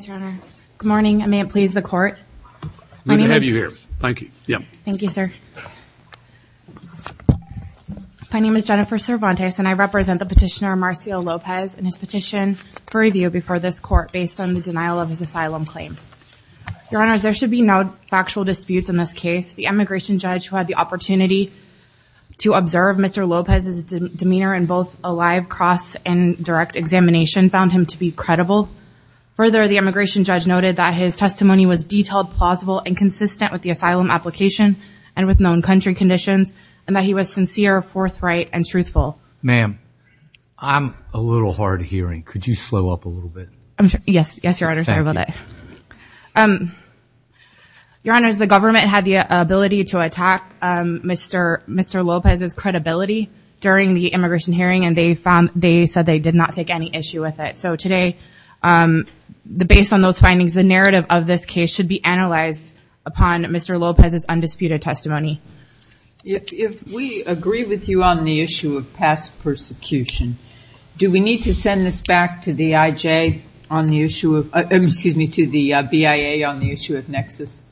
Good morning and may it please the court. My name is Jennifer Cervantes and I represent the petitioner Marcio Lopez and his petition for review before this court based on the denial of his asylum claim. Your Honors, there should be no factual disputes in this case. The immigration judge who had the opportunity to observe Mr. Lopez's demeanor in both a live cross and direct examination found him to be credible. Further, the immigration judge noted that his testimony was detailed, plausible, and consistent with the asylum application and with known country conditions and that he was sincere, forthright, and truthful. Ma'am, I'm a little hard of hearing. Could you slow up a little bit? Yes, yes, Your Honor. Your Honors, the government had the ability to attack Mr. Lopez's credibility during the immigration hearing and they said they did not take any issue with it. So today, based on those findings, the narrative of this case should be analyzed upon Mr. Lopez's undisputed testimony. If we agree with you on the issue of past persecution, do we need to send this back to the IJ on the issue of, excuse me, to the BIA on the issue of Nexus?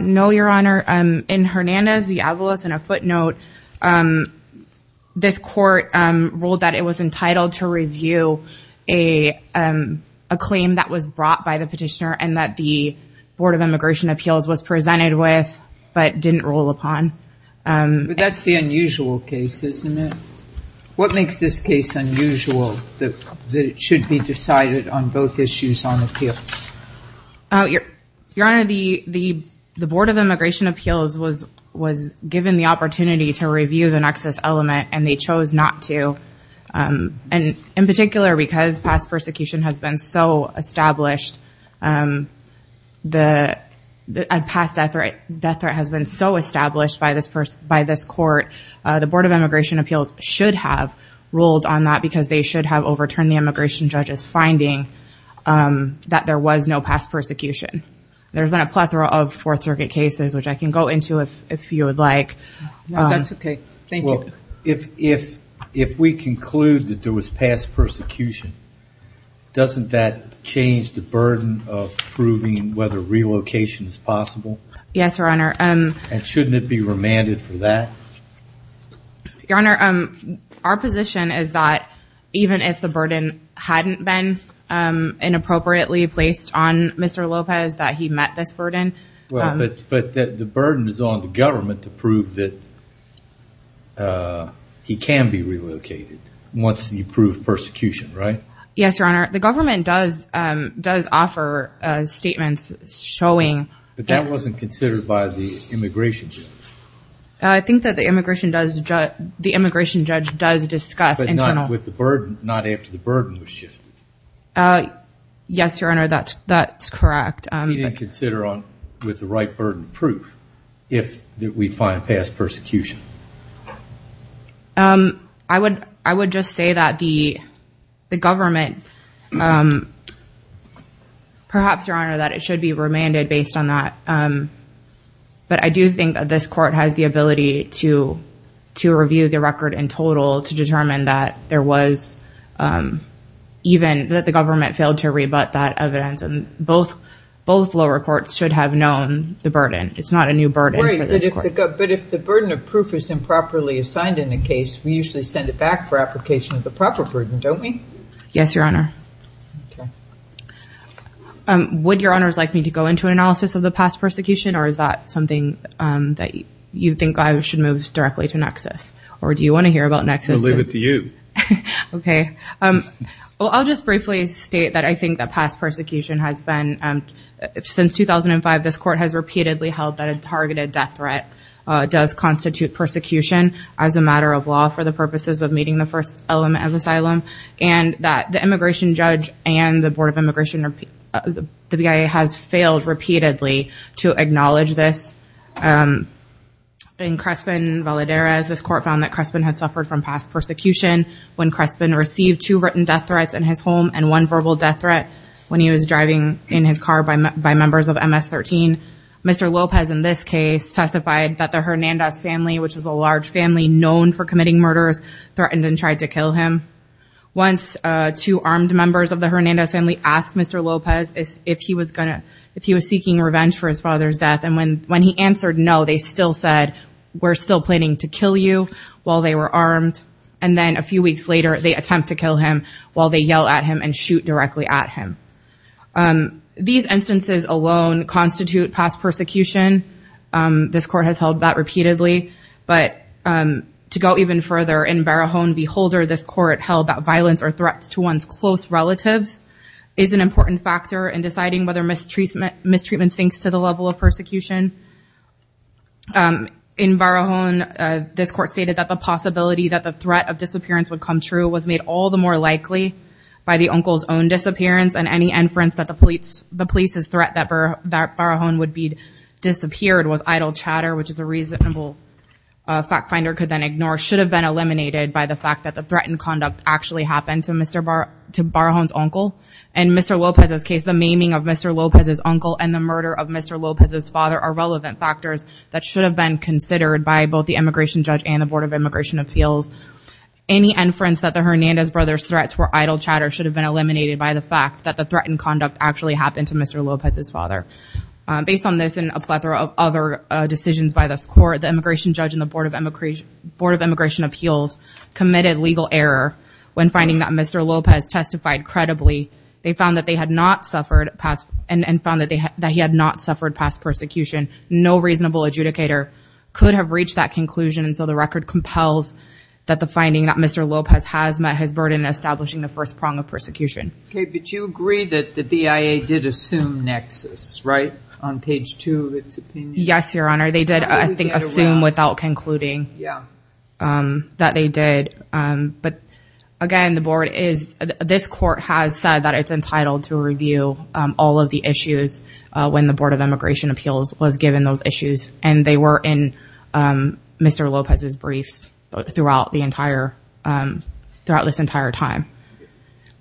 No, Your Honor. In Hernandez-Diablos, in a footnote, this court ruled that it was entitled to review a claim that was brought by the petitioner and that the Board of Immigration Appeals was presented with but didn't rule upon. But that's the unusual case, isn't it? What makes this case unusual that it should be decided on both issues on appeal? Your Honor, the Board of Immigration Appeals was given the opportunity to but was not to. And in particular, because past death threat has been so established by this court, the Board of Immigration Appeals should have ruled on that because they should have overturned the immigration judge's finding that there was no past persecution. There's been a plethora of Fourth Circuit cases, which I can go into if you would like. No, that's okay. Thank you. Well, if we conclude that there was past persecution, doesn't that change the burden of proving whether relocation is possible? Yes, Your Honor. And shouldn't it be remanded for that? Your Honor, our position is that even if the burden hadn't been inappropriately placed on Mr. Lopez, that he met this burden. But the burden is on the government to prove that he can be relocated once you prove persecution, right? Yes, Your Honor. The government does offer statements showing... But that wasn't considered by the immigration judge. I think that the immigration judge does discuss... But not after the burden was shifted. Yes, Your Honor, that's correct. He didn't consider with the right burden proof if we find past persecution. I would just say that the government... Perhaps, Your Honor, that it should be remanded based on that. But I do think that this court has the ability to review the record in total to determine that there was... Even that the government failed to rebut that evidence. And both lower courts should have known the burden. It's not a new burden for this court. But if the burden of proof is improperly assigned in a case, we usually send it back for application of the proper burden, don't we? Yes, Your Honor. Would Your Honors like me to go into analysis of the past persecution? Or is that something that you think I should move directly to Nexus? Or do you want to hear about Nexus? We'll leave it to you. Okay. Well, I'll just briefly state that I think that past persecution has been... Since 2005, this court has repeatedly held that a targeted death threat does constitute persecution as a matter of law for the purposes of meeting the first element of asylum. And that the immigration judge and the Board of Immigration... The BIA has failed repeatedly to acknowledge this. In Crespen-Valderez, this court found that Crespen had suffered from past persecution when Crespen received two written death threats in his home and one verbal death threat when he was driving in his car by members of MS-13. Mr. Lopez, in this case, testified that the Hernandez family, which is a large family known for committing murders, threatened and tried to kill him. Once, two armed members of the Hernandez family asked Mr. Lopez if he was seeking revenge for his father's death. And when he answered no, they still said, we're still planning to kill you while they were armed. And then a few weeks later, they attempt to kill him while they yell at him and shoot directly at him. These instances alone constitute past persecution. This court has held that repeatedly. But to go even further, in Barajon-Beholder, this court held that violence or threats to one's close relatives is an important factor in deciding whether mistreatment sinks to the level of persecution. In Barajon, this court stated that the possibility that the threat of disappearance would come true was made all the more likely by the uncle's own disappearance and any inference that the police's threat that Barajon would be disappeared was idle chatter, which is a reasonable fact finder could then ignore, should have been eliminated by the fact that the threatened conduct actually happened to Barajon's uncle. In Mr. Lopez's case, the maiming of Mr. Lopez's uncle and the murder of Mr. Lopez's father are relevant factors that should have been considered by both the immigration judge and the Board of Immigration Appeals. Any inference that the Hernandez brothers' threats were idle chatter should have been eliminated by the fact that the threatened conduct actually happened to Mr. Lopez's father. Based on this and a plethora of other decisions by this court, the immigration judge and the Board of Immigration Appeals committed legal error when finding that Mr. Lopez testified credibly. They found that he had not suffered past persecution. No reasonable adjudicator could have reached that conclusion, and so the record compels that the finding that Mr. Lopez has met his burden in establishing the first prong of persecution. Okay, but you agree that the BIA did assume nexus, right? On page two of its opinion? Yes, Your Honor. They did, I think, assume without concluding. Yeah. That they did. But again, the board is, this court has said that it's entitled to review all of the issues when the Board of Immigration Appeals was given those issues, and they were in Mr. Lopez's briefs throughout the entire, throughout this entire time.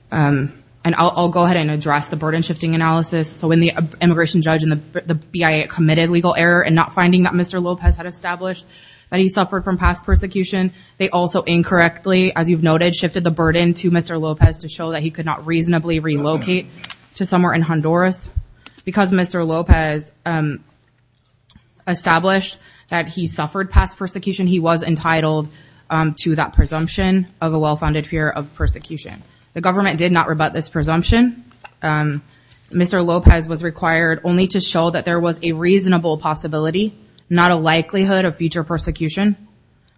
And I'll go ahead and address the burden-shifting analysis. So when the immigration judge and the BIA committed legal error in not finding that Mr. Lopez had established that he suffered from past persecution, they also incorrectly, as you've noted, shifted the burden to Mr. Lopez to show that he could not reasonably relocate to somewhere in Honduras. Because Mr. Lopez established that he suffered past persecution, he was entitled to that presumption of a well-founded fear of persecution. The government did not rebut this presumption. Mr. Lopez was required only to show that there was a reasonable possibility, not a likelihood of future persecution.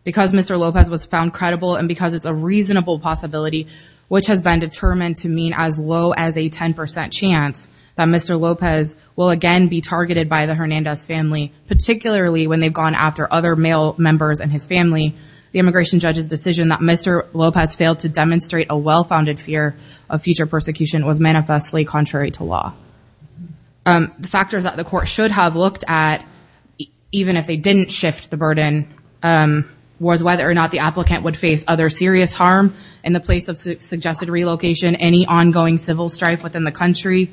Because Mr. Lopez was found credible and because it's a reasonable possibility, which has been determined to mean as low as a 10% chance that Mr. Lopez will again be targeted by the Hernandez family, particularly when they've gone after other male members in his family, the immigration judge's decision that Mr. Lopez failed to demonstrate a well-founded fear of future persecution was manifestly contrary to law. The factors that the court should have looked at, even if they didn't shift the burden, was whether or not the applicant would face other serious harm in the place of suggested relocation, any ongoing civil strife within the country,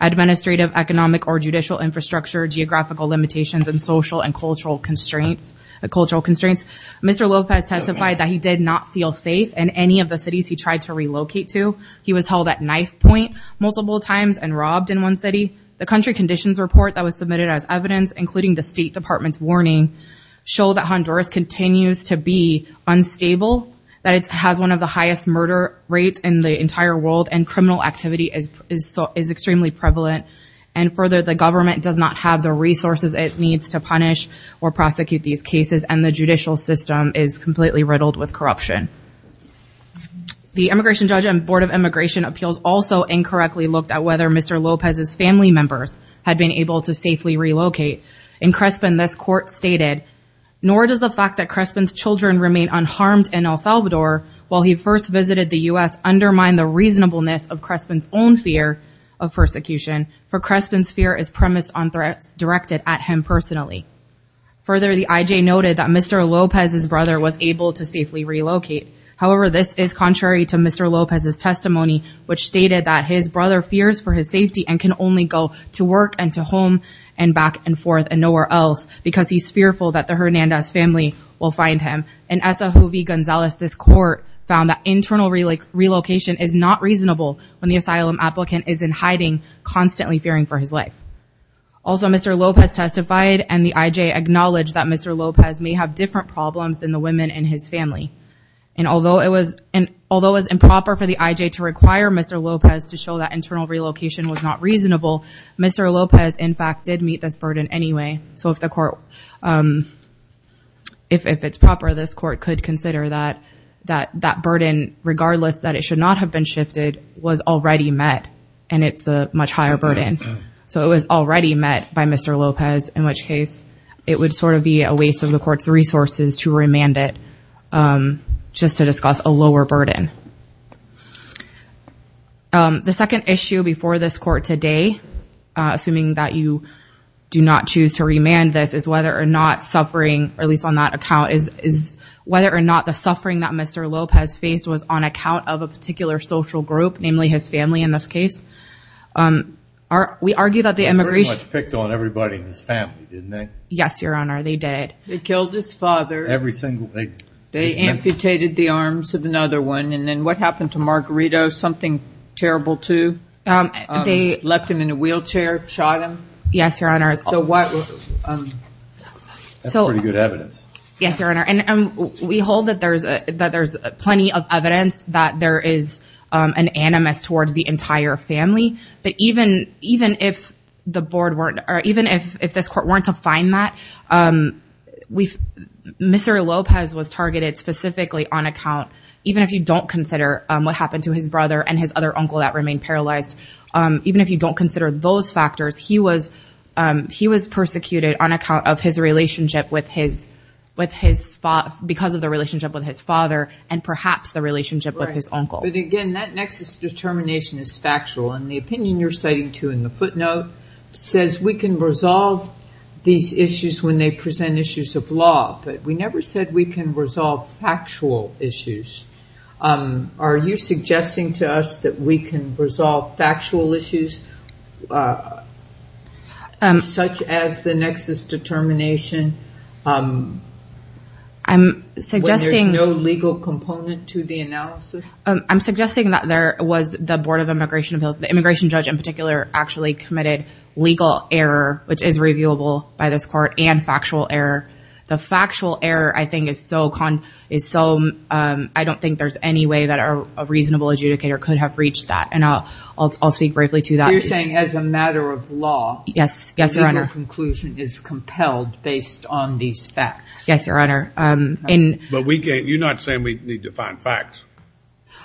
administrative, economic, or judicial infrastructure, geographical limitations, and social and cultural constraints. Mr. Lopez testified that he did not feel safe in any of the cities he tried to relocate to. He was held at knife point multiple times and robbed in one city. The country conditions report that was submitted as evidence, including the State Department's warning, showed that Honduras continues to be unstable, that it has one of the highest murder rates in the entire world, and criminal activity is extremely prevalent. And further, the government does not have the resources it needs to punish or prosecute these cases, and the judicial system is completely riddled with corruption. The immigration judge and Board of Immigration Appeals also incorrectly looked at whether Mr. Lopez's family members had been able to safely relocate. In Crespin, this court stated, nor does the fact that Crespin's children remain unharmed in El Salvador, while he first visited the U.S., undermine the reasonableness of Crespin's own fear of persecution, for Crespin's fear is premised on threats directed at him personally. Further, the I.J. noted that Mr. Lopez's brother was able to safely relocate. However, this is contrary to Mr. Lopez's testimony, which stated that his brother fears for his safety and can only go to work and to home and back and forth and nowhere else because he's fearful that the Hernandez family will find him. In Esajuvi, Gonzales, this court found that internal relocation is not reasonable when the asylum applicant is in hiding, constantly fearing for his life. Also, Mr. Lopez testified and the I.J. acknowledged that Mr. Lopez may have different problems than the women in his family. And although it was improper for the I.J. to require Mr. Lopez to show that internal relocation was not reasonable, Mr. Lopez, in fact, did meet this burden anyway. So if it's proper, this court could consider that that burden, regardless that it should not have been shifted, was already met, and it's a much higher burden. So it was already met by Mr. Lopez, in which case it would sort of be a waste of the court's resources to remand it just to discuss a lower burden. The second issue before this court today, assuming that you do not choose to remand this, is whether or not suffering, at least on that account, is whether or not the suffering that Mr. Lopez faced was on account of a particular social group, namely his family in this case. We argue that the immigration- They pretty much picked on everybody in his family, didn't they? Yes, Your Honor, they did. They killed his father. Every single- They amputated the arms of another one. And then what happened to Margarito? Something terrible too? They- Left him in a wheelchair, shot him? Yes, Your Honor. So what- That's pretty good evidence. Yes, Your Honor, and we hold that there's plenty of evidence that there is an animus towards the entire family. But even if the board weren't- or even if this court weren't to find that, Mr. Lopez was targeted specifically on account- because of the relationship with his father and perhaps the relationship with his uncle. But again, that nexus determination is factual. And the opinion you're citing too in the footnote says we can resolve these issues when they present issues of law. But we never said we can resolve factual issues. Are you suggesting to us that we can resolve factual issues such as the nexus determination when there's no legal component to the analysis? I'm suggesting that there was the Board of Immigration- the immigration judge in particular actually committed legal error, which is reviewable by this court, and factual error. The factual error, I think, is so- I don't think there's any way that a reasonable adjudicator could have reached that. And I'll speak briefly to that. You're saying as a matter of law- Yes, yes, Your Honor. The conclusion is compelled based on these facts. Yes, Your Honor. But we can't- you're not saying we need to find facts.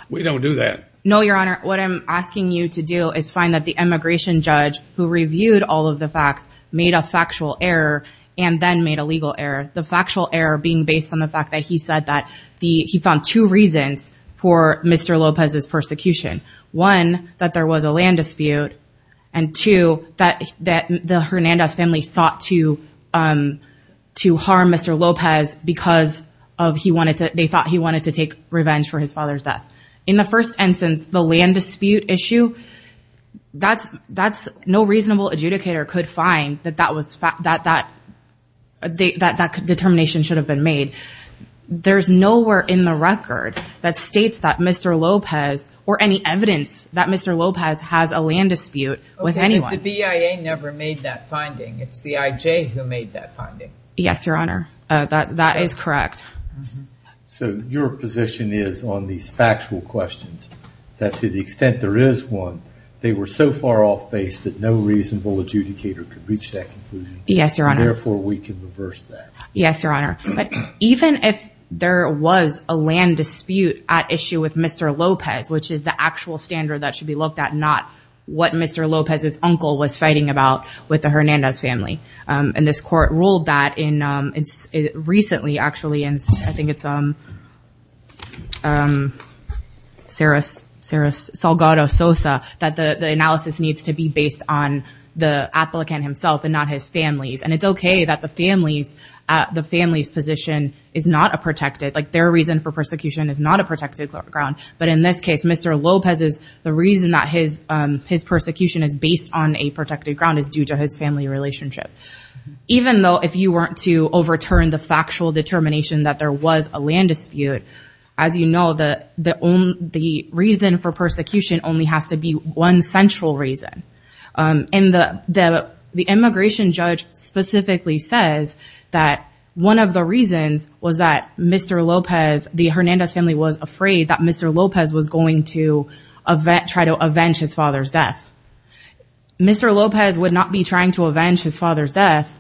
We don't do that. No, Your Honor. What I'm asking you to do is find that the immigration judge who reviewed all of the facts made a factual error and then made a legal error. The factual error being based on the fact that he said that he found two reasons for Mr. Lopez's persecution. One, that there was a land dispute. And two, that the Hernandez family sought to harm Mr. Lopez because they thought he wanted to take revenge for his father's death. In the first instance, the land dispute issue, that's- no reasonable adjudicator could find that that determination should have been made. There's nowhere in the record that states that Mr. Lopez or any evidence that Mr. Lopez has a land dispute with anyone. Okay, but the BIA never made that finding. It's the IJ who made that finding. Yes, Your Honor. That is correct. So your position is on these factual questions, that to the extent there is one, they were so far off base that no reasonable adjudicator could reach that conclusion. Yes, Your Honor. Therefore, we can reverse that. Yes, Your Honor. But even if there was a land dispute at issue with Mr. Lopez, which is the actual standard that should be looked at, not what Mr. Lopez's uncle was fighting about with the Hernandez family. And this court ruled that in- recently, actually, and I think it's Saris Salgado Sosa, that the analysis needs to be based on the applicant himself and not his family. And it's okay that the family's position is not a protected- like their reason for persecution is not a protected ground. But in this case, Mr. Lopez's- the reason that his persecution is based on a protected ground is due to his family relationship. Even though if you were to overturn the factual determination that there was a land dispute, as you know, the reason for persecution only has to be one central reason. And the immigration judge specifically says that one of the reasons was that Mr. Lopez- the Hernandez family was afraid that Mr. Lopez was going to try to avenge his father's death. Mr. Lopez would not be trying to avenge his father's death,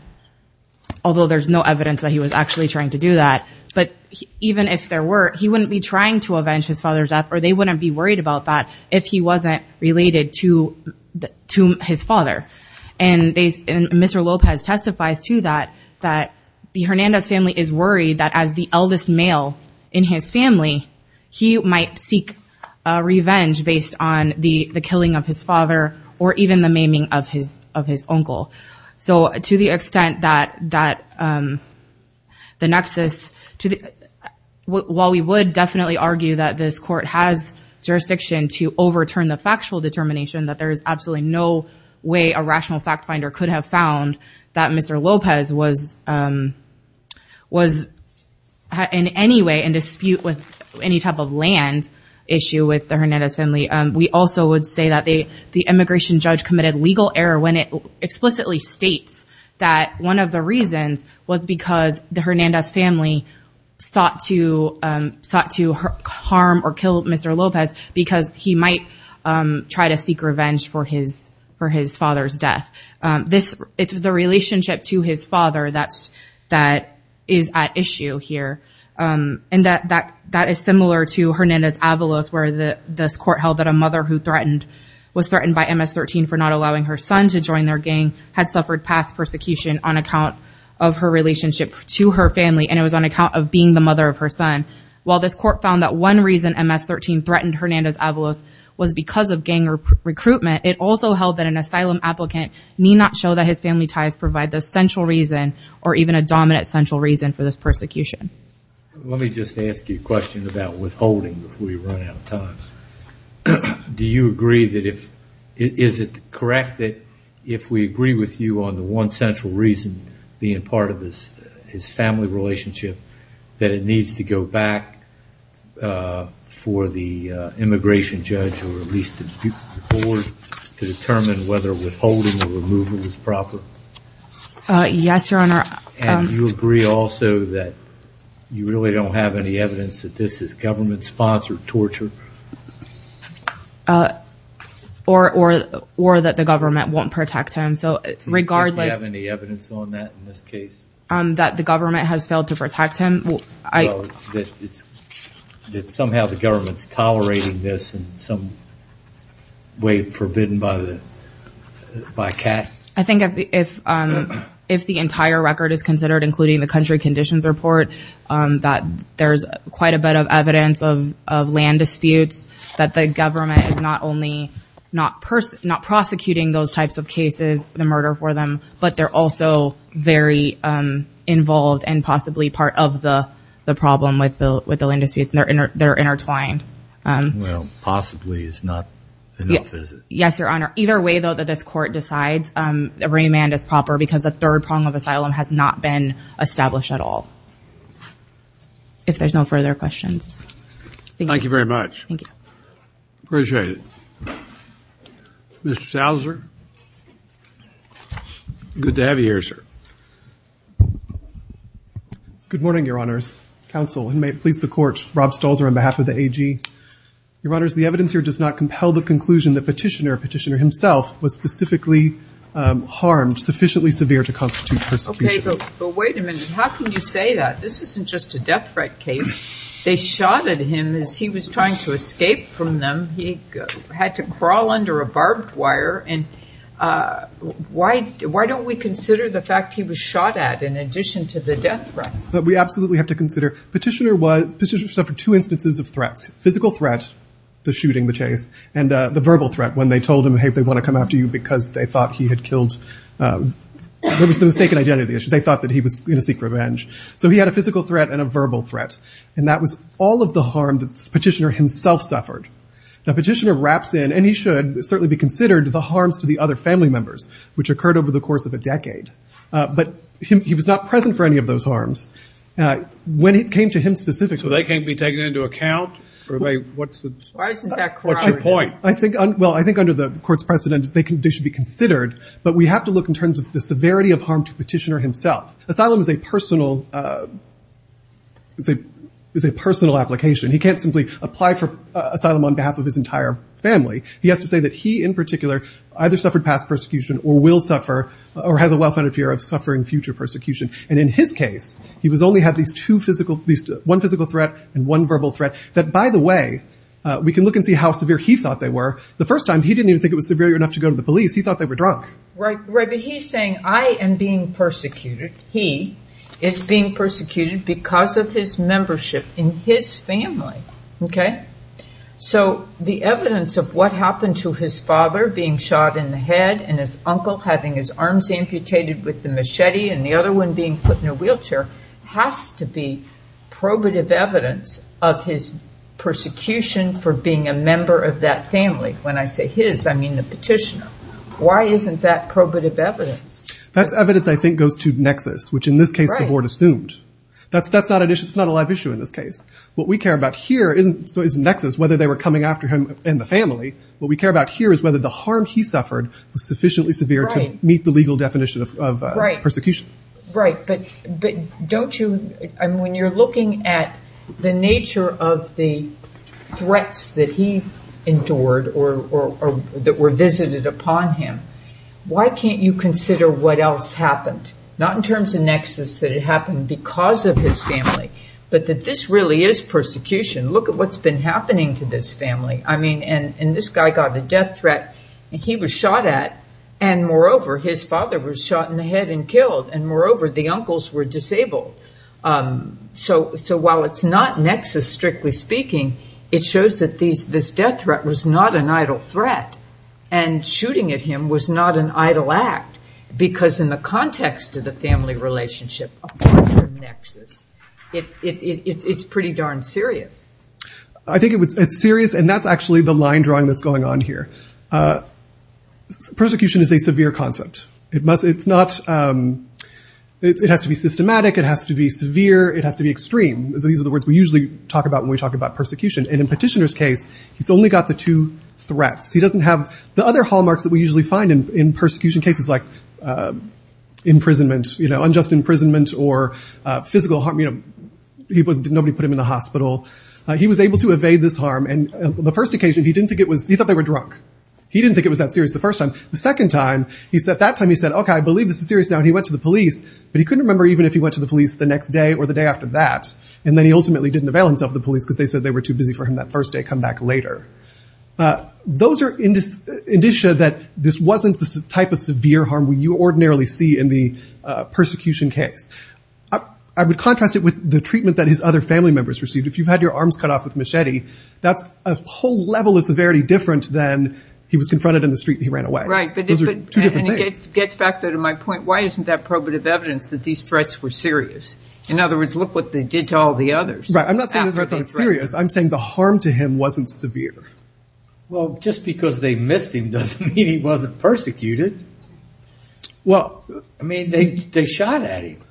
although there's no evidence that he was actually trying to do that. But even if there were, he wouldn't be trying to avenge his father's death or they wouldn't be worried about that if he wasn't related to his father. And Mr. Lopez testifies to that, that the Hernandez family is worried that as the eldest male in his family, he might seek revenge based on the killing of his father or even the maiming of his uncle. So to the extent that the nexus- while we would definitely argue that this court has jurisdiction to overturn the factual determination, that there is absolutely no way a rational fact finder could have found that Mr. Lopez was in any way in dispute with any type of land issue with the Hernandez family. We also would say that the immigration judge committed legal error when it explicitly states that one of the reasons was because the Hernandez family sought to harm or kill Mr. Lopez because he might try to seek revenge for his father's death. It's the relationship to his father that is at issue here. And that is similar to Hernandez-Avalos where this court held that a mother who was threatened by MS-13 for not allowing her son to join their gang had suffered past persecution on account of her relationship to her family and it was on account of being the mother of her son. While this court found that one reason MS-13 threatened Hernandez-Avalos was because of gang recruitment, it also held that an asylum applicant need not show that his family ties provide the central reason or even a dominant central reason for this persecution. Let me just ask you a question about withholding before we run out of time. Do you agree that if, is it correct that if we agree with you on the one central reason being part of his family relationship that it needs to go back for the immigration judge or at least the board to determine whether withholding or removal is proper? Yes, your honor. And you agree also that you really don't have any evidence that this is government-sponsored torture? Or that the government won't protect him, so regardless... Do you think you have any evidence on that in this case? That the government has failed to protect him? That somehow the government is tolerating this in some way forbidden by CAT? I think if the entire record is considered, including the country conditions report, that there's quite a bit of evidence of land disputes, that the government is not only not prosecuting those types of cases, the murder for them, but they're also very involved and possibly part of the problem with the land disputes and they're intertwined. Well, possibly is not enough, is it? Yes, your honor. Either way, though, that this court decides remand is proper because the third prong of asylum has not been established at all. If there's no further questions. Thank you very much. Thank you. Appreciate it. Mr. Stalzer? Good to have you here, sir. Good morning, your honors. Counsel and may it please the court, Rob Stalzer on behalf of the AG. Your honors, the evidence here does not compel the conclusion that Petitioner, Petitioner himself, was specifically harmed sufficiently severe to constitute persecution. Okay, but wait a minute. How can you say that? This isn't just a death threat case. They shot at him as he was trying to escape from them. He had to crawl under a barbed wire and why don't we consider the fact he was shot at in addition to the death threat? We absolutely have to consider Petitioner was, Petitioner suffered two instances of threats, physical threat, the shooting, the chase, and the verbal threat when they told him, hey, they want to come after you because they thought he had killed, there was the mistaken identity. They thought that he was going to seek revenge. So he had a physical threat and a verbal threat. And that was all of the harm that Petitioner himself suffered. Now, Petitioner wraps in and he should certainly be considered the harms to the other family members, which occurred over the course of a decade. But he was not present for any of those harms. When it came to him specifically. So they can't be taken into account? What's your point? Well, I think under the court's precedent, they should be considered. But we have to look in terms of the severity of harm to Petitioner himself. Asylum is a personal application. He can't simply apply for asylum on behalf of his entire family. He has to say that he in particular either suffered past persecution or will suffer or has a well-founded fear of suffering future persecution. And in his case, he only had these two physical, one physical threat and one verbal threat. That by the way, we can look and see how severe he thought they were. The first time he didn't even think it was severe enough to go to the police. He thought they were drunk. Right. But he's saying I am being persecuted. He is being persecuted because of his membership in his family. Okay. So the evidence of what happened to his father being shot in the head and his uncle having his arms amputated with the machete and the other one being put in a wheelchair has to be probative evidence of his persecution for being a member of that family. When I say his, I mean the Petitioner. Why isn't that probative evidence? That evidence I think goes to nexus, which in this case the board assumed. Right. That's not a live issue in this case. What we care about here isn't nexus, whether they were coming after him and the family. What we care about here is whether the harm he suffered was sufficiently severe to meet the legal definition of persecution. Right. But don't you, when you're looking at the nature of the threats that he endured or that were visited upon him, why can't you consider what else happened? Not in terms of nexus that it happened because of his family, but that this really is persecution. Look at what's been happening to this family. I mean, and this guy got a death threat, and he was shot at, and moreover his father was shot in the head and killed, and moreover the uncles were disabled. So while it's not nexus, strictly speaking, it shows that this death threat was not an idle threat, and shooting at him was not an idle act, because in the context of the family relationship apart from nexus, it's pretty darn serious. I think it's serious, and that's actually the line drawing that's going on here. Persecution is a severe concept. It has to be systematic. It has to be severe. It has to be extreme. These are the words we usually talk about when we talk about persecution, and in Petitioner's case, he's only got the two threats. He doesn't have the other hallmarks that we usually find in persecution cases like imprisonment, unjust imprisonment, or physical harm. Nobody put him in the hospital. He was able to evade this harm, and the first occasion, he thought they were drunk. He didn't think it was that serious the first time. The second time, at that time, he said, okay, I believe this is serious now, and he went to the police, but he couldn't remember even if he went to the police the next day or the day after that, and then he ultimately didn't avail himself of the police, because they said they were too busy for him that first day, come back later. Those are indicia that this wasn't the type of severe harm we ordinarily see in the persecution case. I would contrast it with the treatment that his other family members received. If you've had your arms cut off with a machete, that's a whole level of severity different than he was confronted in the street and he ran away. Those are two different things. And it gets back to my point. Why isn't that probative evidence that these threats were serious? In other words, look what they did to all the others. Right. I'm not saying the threats aren't serious. I'm saying the harm to him wasn't severe. Well, just because they missed him doesn't mean he wasn't persecuted. Well. I mean, they shot at him.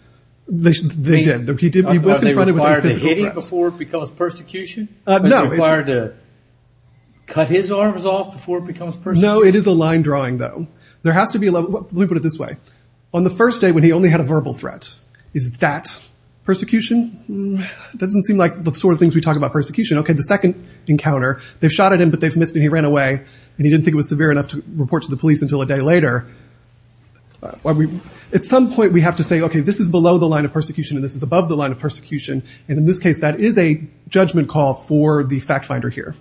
They did. He was confronted with physical threats. Did they require to hit him before it becomes persecution? No. Did they require to cut his arms off before it becomes persecution? No, it is a line drawing, though. There has to be a level. Let me put it this way. On the first day when he only had a verbal threat, is that persecution? It doesn't seem like the sort of things we talk about persecution. Okay. The second encounter, they shot at him, but they missed him and he ran away. And he didn't think it was severe enough to report to the police until a day later. At some point, we have to say, okay, this is below the line of persecution and this is above the line of persecution. And in this case, that is a judgment call for the fact finder here.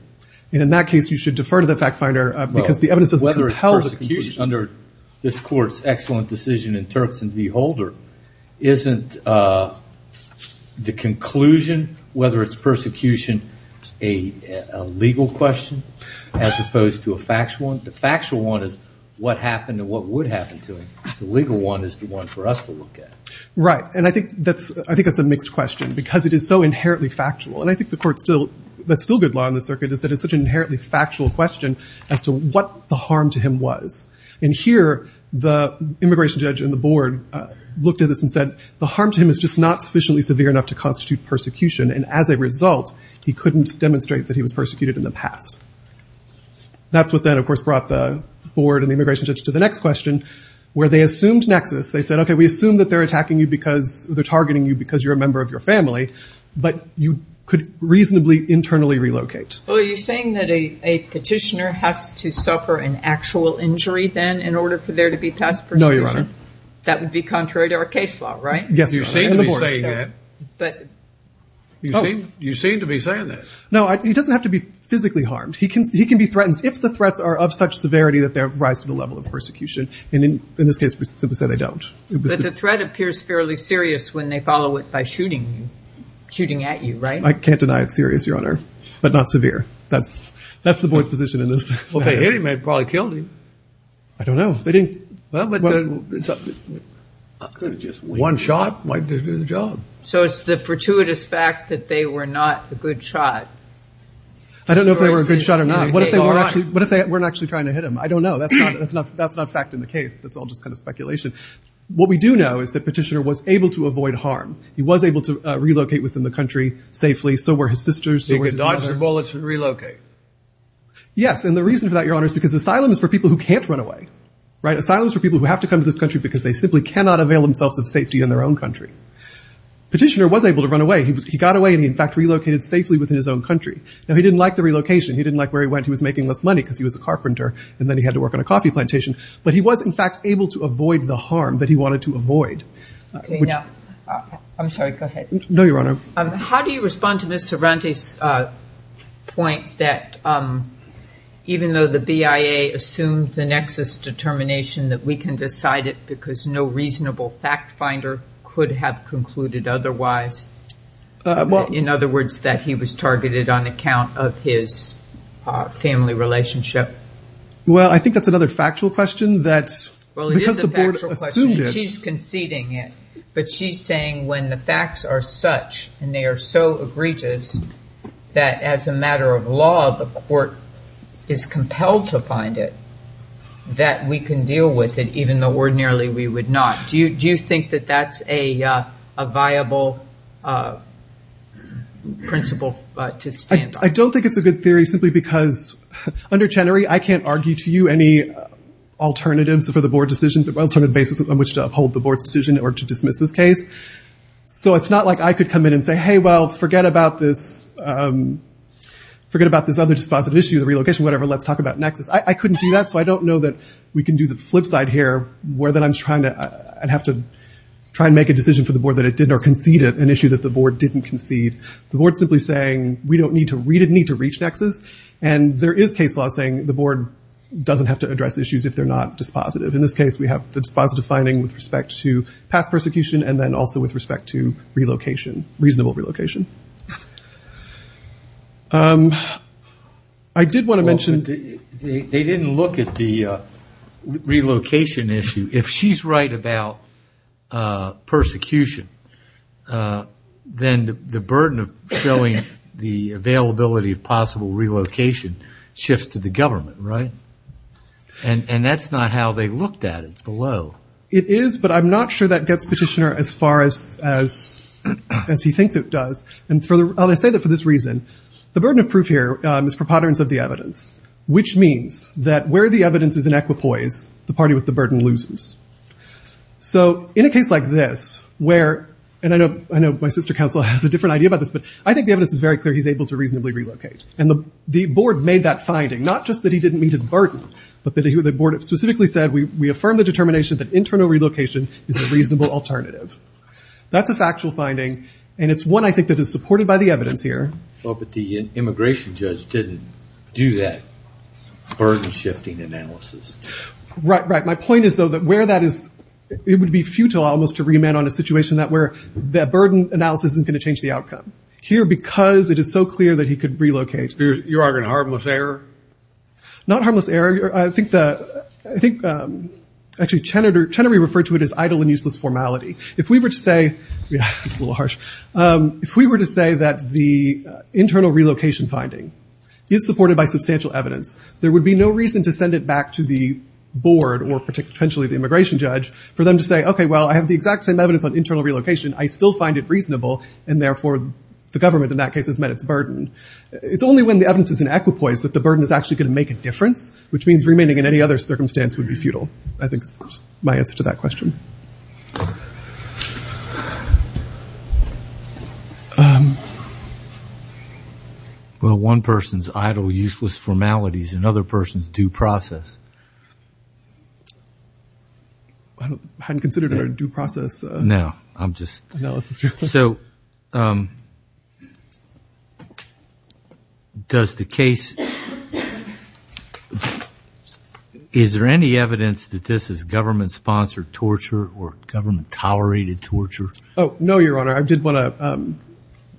And in that case, you should defer to the fact finder because the evidence doesn't help. Under this court's excellent decision in Turks and V. Holder, isn't the conclusion, whether it's persecution, a legal question as opposed to a factual one? The factual one is what happened and what would happen to him. The legal one is the one for us to look at. Right. And I think that's a mixed question because it is so inherently factual. And I think that's still good law in the circuit is that it's such an inherently factual question as to what the harm to him was. And here, the immigration judge and the board looked at this and said, the harm to him is just not sufficiently severe enough to constitute persecution. And as a result, he couldn't demonstrate that he was persecuted in the past. That's what then, of course, brought the board and the immigration judge to the next question where they assumed nexus. They said, okay, we assume that they're attacking you because they're targeting you because you're a member of your family. But you could reasonably internally relocate. Well, are you saying that a petitioner has to suffer an actual injury then in order for there to be past persecution? No, Your Honor. That would be contrary to our case law, right? Yes, Your Honor. You seem to be saying that. You seem to be saying that. No, he doesn't have to be physically harmed. He can be threatened if the threats are of such severity that they rise to the level of persecution. And in this case, we simply say they don't. But the threat appears fairly serious when they follow it by shooting at you, right? I can't deny it's serious, Your Honor, but not severe. That's the board's position in this. Well, if they hit him, they probably killed him. I don't know. They didn't. One shot might do the job. So it's the fortuitous fact that they were not a good shot. I don't know if they were a good shot or not. What if they weren't actually trying to hit him? I don't know. That's not fact in the case. That's all just kind of speculation. What we do know is that Petitioner was able to avoid harm. He was able to relocate within the country safely. So were his sisters. So he could dodge the bullets and relocate. Yes, and the reason for that, Your Honor, is because asylum is for people who can't run away, right? Asylum is for people who have to come to this country because they simply cannot avail themselves of safety in their own country. Petitioner was able to run away. He got away, and he, in fact, relocated safely within his own country. Now, he didn't like the relocation. He didn't like where he went. He was making less money because he was a carpenter, and then he had to work on a coffee plantation. But he was, in fact, able to avoid the harm that he wanted to avoid. I'm sorry. Go ahead. No, Your Honor. How do you respond to Ms. Sorante's point that even though the BIA assumed the nexus determination that we can decide it because no reasonable fact finder could have concluded otherwise, in other words, that he was targeted on account of his family relationship? Well, I think that's another factual question. Well, it is a factual question. She's conceding it. But she's saying when the facts are such, and they are so egregious, that as a matter of law, the court is compelled to find it, that we can deal with it even though ordinarily we would not. Do you think that that's a viable principle to stand on? I don't think it's a good theory simply because under Chenery, I can't argue to you any alternatives for the board decision, alternative basis on which to uphold the board's decision or to dismiss this case. So it's not like I could come in and say, hey, well, forget about this other dispositive issue, the relocation, whatever. Let's talk about nexus. I couldn't do that, so I don't know that we can do the flip side here, where I'd have to try and make a decision for the board that it didn't, or concede an issue that the board didn't concede. The board's simply saying we don't need to reach nexus, and there is case law saying the board doesn't have to address issues if they're not dispositive. In this case, we have the dispositive finding with respect to past persecution, and then also with respect to relocation, reasonable relocation. I did want to mention- They didn't look at the relocation issue. If she's right about persecution, then the burden of showing the availability of possible relocation shifts to the government, right? And that's not how they looked at it below. It is, but I'm not sure that gets Petitioner as far as he thinks it does. And I say that for this reason. The burden of proof here is preponderance of the evidence, which means that where the evidence is in equipoise, the party with the burden loses. So in a case like this, where- And I know my sister counsel has a different idea about this, but I think the evidence is very clear he's able to reasonably relocate. And the board made that finding, not just that he didn't meet his burden, but that the board specifically said, we affirm the determination that internal relocation is a reasonable alternative. That's a factual finding, and it's one I think that is supported by the evidence here. Well, but the immigration judge didn't do that burden-shifting analysis. Right, right. My point is, though, that where that is, it would be futile almost to remand on a situation where that burden analysis isn't going to change the outcome. Here, because it is so clear that he could relocate- You're arguing harmless error? Not harmless error. I think actually Chenery referred to it as idle and useless formality. If we were to say- Yeah, it's a little harsh. If we were to say that the internal relocation finding is supported by substantial evidence, there would be no reason to send it back to the board, or potentially the immigration judge, for them to say, okay, well, I have the exact same evidence on internal relocation. I still find it reasonable, and therefore the government in that case has met its burden. It's only when the evidence is in equipoise that the burden is actually going to make a difference, which means remaining in any other circumstance would be futile. I think is my answer to that question. Well, one person's idle, useless formalities and another person's due process. I hadn't considered a due process analysis. No, I'm just- So, does the case- Is there any evidence that this is government-sponsored torture or government-tolerated torture? Oh, no, Your Honor. I did want to-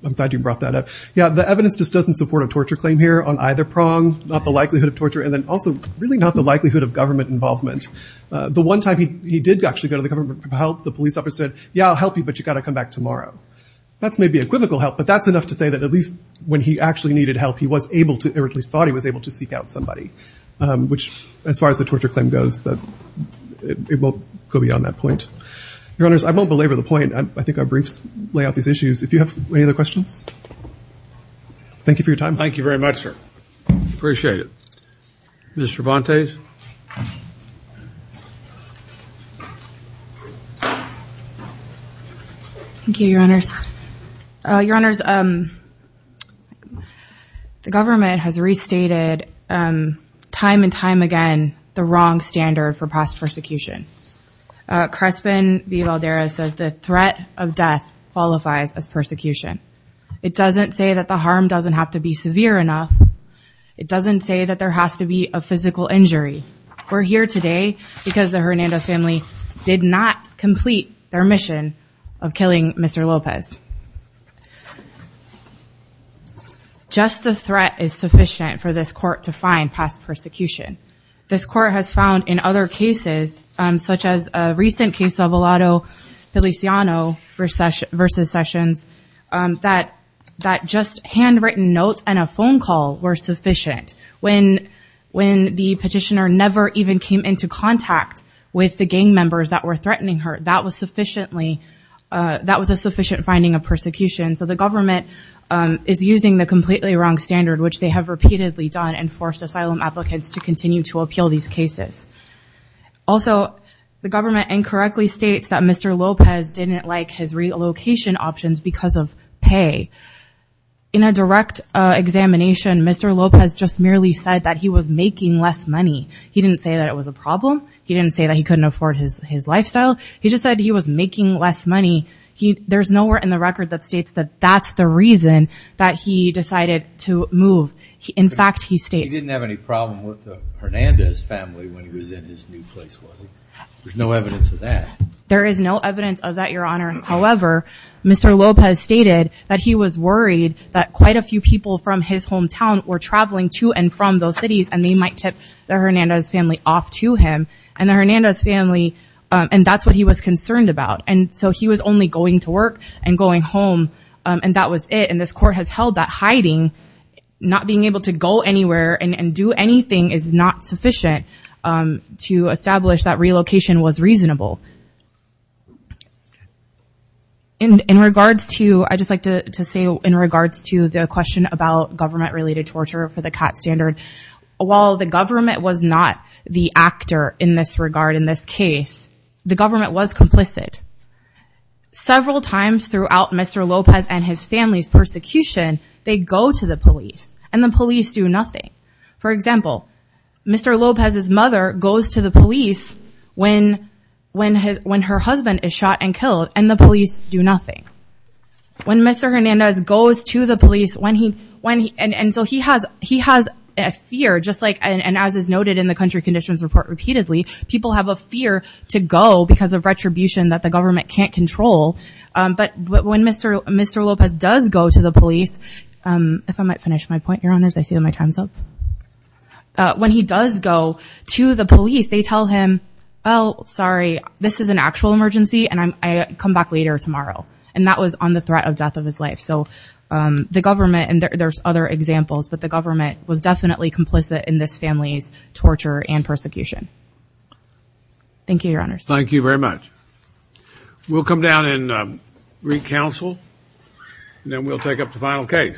I'm glad you brought that up. Yeah, the evidence just doesn't support a torture claim here on either prong, not the likelihood of torture, and then also really not the likelihood of government involvement. The one time he did actually go to the government for help, the police officer said, yeah, I'll help you, but you've got to come back tomorrow. That's maybe equivocal help, but that's enough to say that at least when he actually needed help, he was able to- or at least thought he was able to seek out somebody, which, as far as the torture claim goes, it won't go beyond that point. Your Honors, I won't belabor the point. I think our briefs lay out these issues. If you have any other questions, thank you for your time. Thank you very much, sir. Appreciate it. Ms. Cervantes? Thank you, Your Honors. Your Honors, the government has restated time and time again the wrong standard for past persecution. Crespin V. Valderez says the threat of death qualifies as persecution. It doesn't say that the harm doesn't have to be severe enough. It doesn't say that there has to be a physical injury. We're here today because the Hernandez family did not complete their mission of killing Mr. Lopez. Just the threat is sufficient for this court to find past persecution. This court has found in other cases, such as a recent case of Olato Feliciano v. Sessions, that just handwritten notes and a phone call were sufficient. When the petitioner never even came into contact with the gang members that were threatening her, that was a sufficient finding of persecution. So the government is using the completely wrong standard, which they have repeatedly done and forced asylum applicants to continue to appeal these cases. Also, the government incorrectly states that Mr. Lopez didn't like his relocation options because of pay. In a direct examination, Mr. Lopez just merely said that he was making less money. He didn't say that it was a problem. He didn't say that he couldn't afford his lifestyle. He just said he was making less money. There's nowhere in the record that states that that's the reason that he decided to move. In fact, he states- He didn't have any problem with the Hernandez family when he was in his new place, was he? There's no evidence of that. There is no evidence of that, Your Honor. However, Mr. Lopez stated that he was worried that quite a few people from his hometown were traveling to and from those cities, and they might tip the Hernandez family off to him. And that's what he was concerned about. And so he was only going to work and going home, and that was it. And this court has held that hiding, not being able to go anywhere and do anything, is not sufficient to establish that relocation was reasonable. In regards to- I'd just like to say in regards to the question about government-related torture for the CAT standard, while the government was not the actor in this regard, in this case, the government was complicit. Several times throughout Mr. Lopez and his family's persecution, they go to the police, and the police do nothing. For example, Mr. Lopez's mother goes to the police when her husband is shot and killed, and the police do nothing. When Mr. Hernandez goes to the police, when he- and so he has a fear, just like- and as is noted in the Country Conditions Report repeatedly, people have a fear to go because of retribution that the government can't control. But when Mr. Lopez does go to the police- if I might finish my point, Your Honors, I see that my time's up. When he does go to the police, they tell him, oh, sorry, this is an actual emergency, and I come back later tomorrow. And that was on the threat of death of his life. So the government- and there's other examples, but the government was definitely complicit in this family's torture and persecution. Thank you, Your Honors. Thank you very much. We'll come down and re-counsel, and then we'll take up the final case.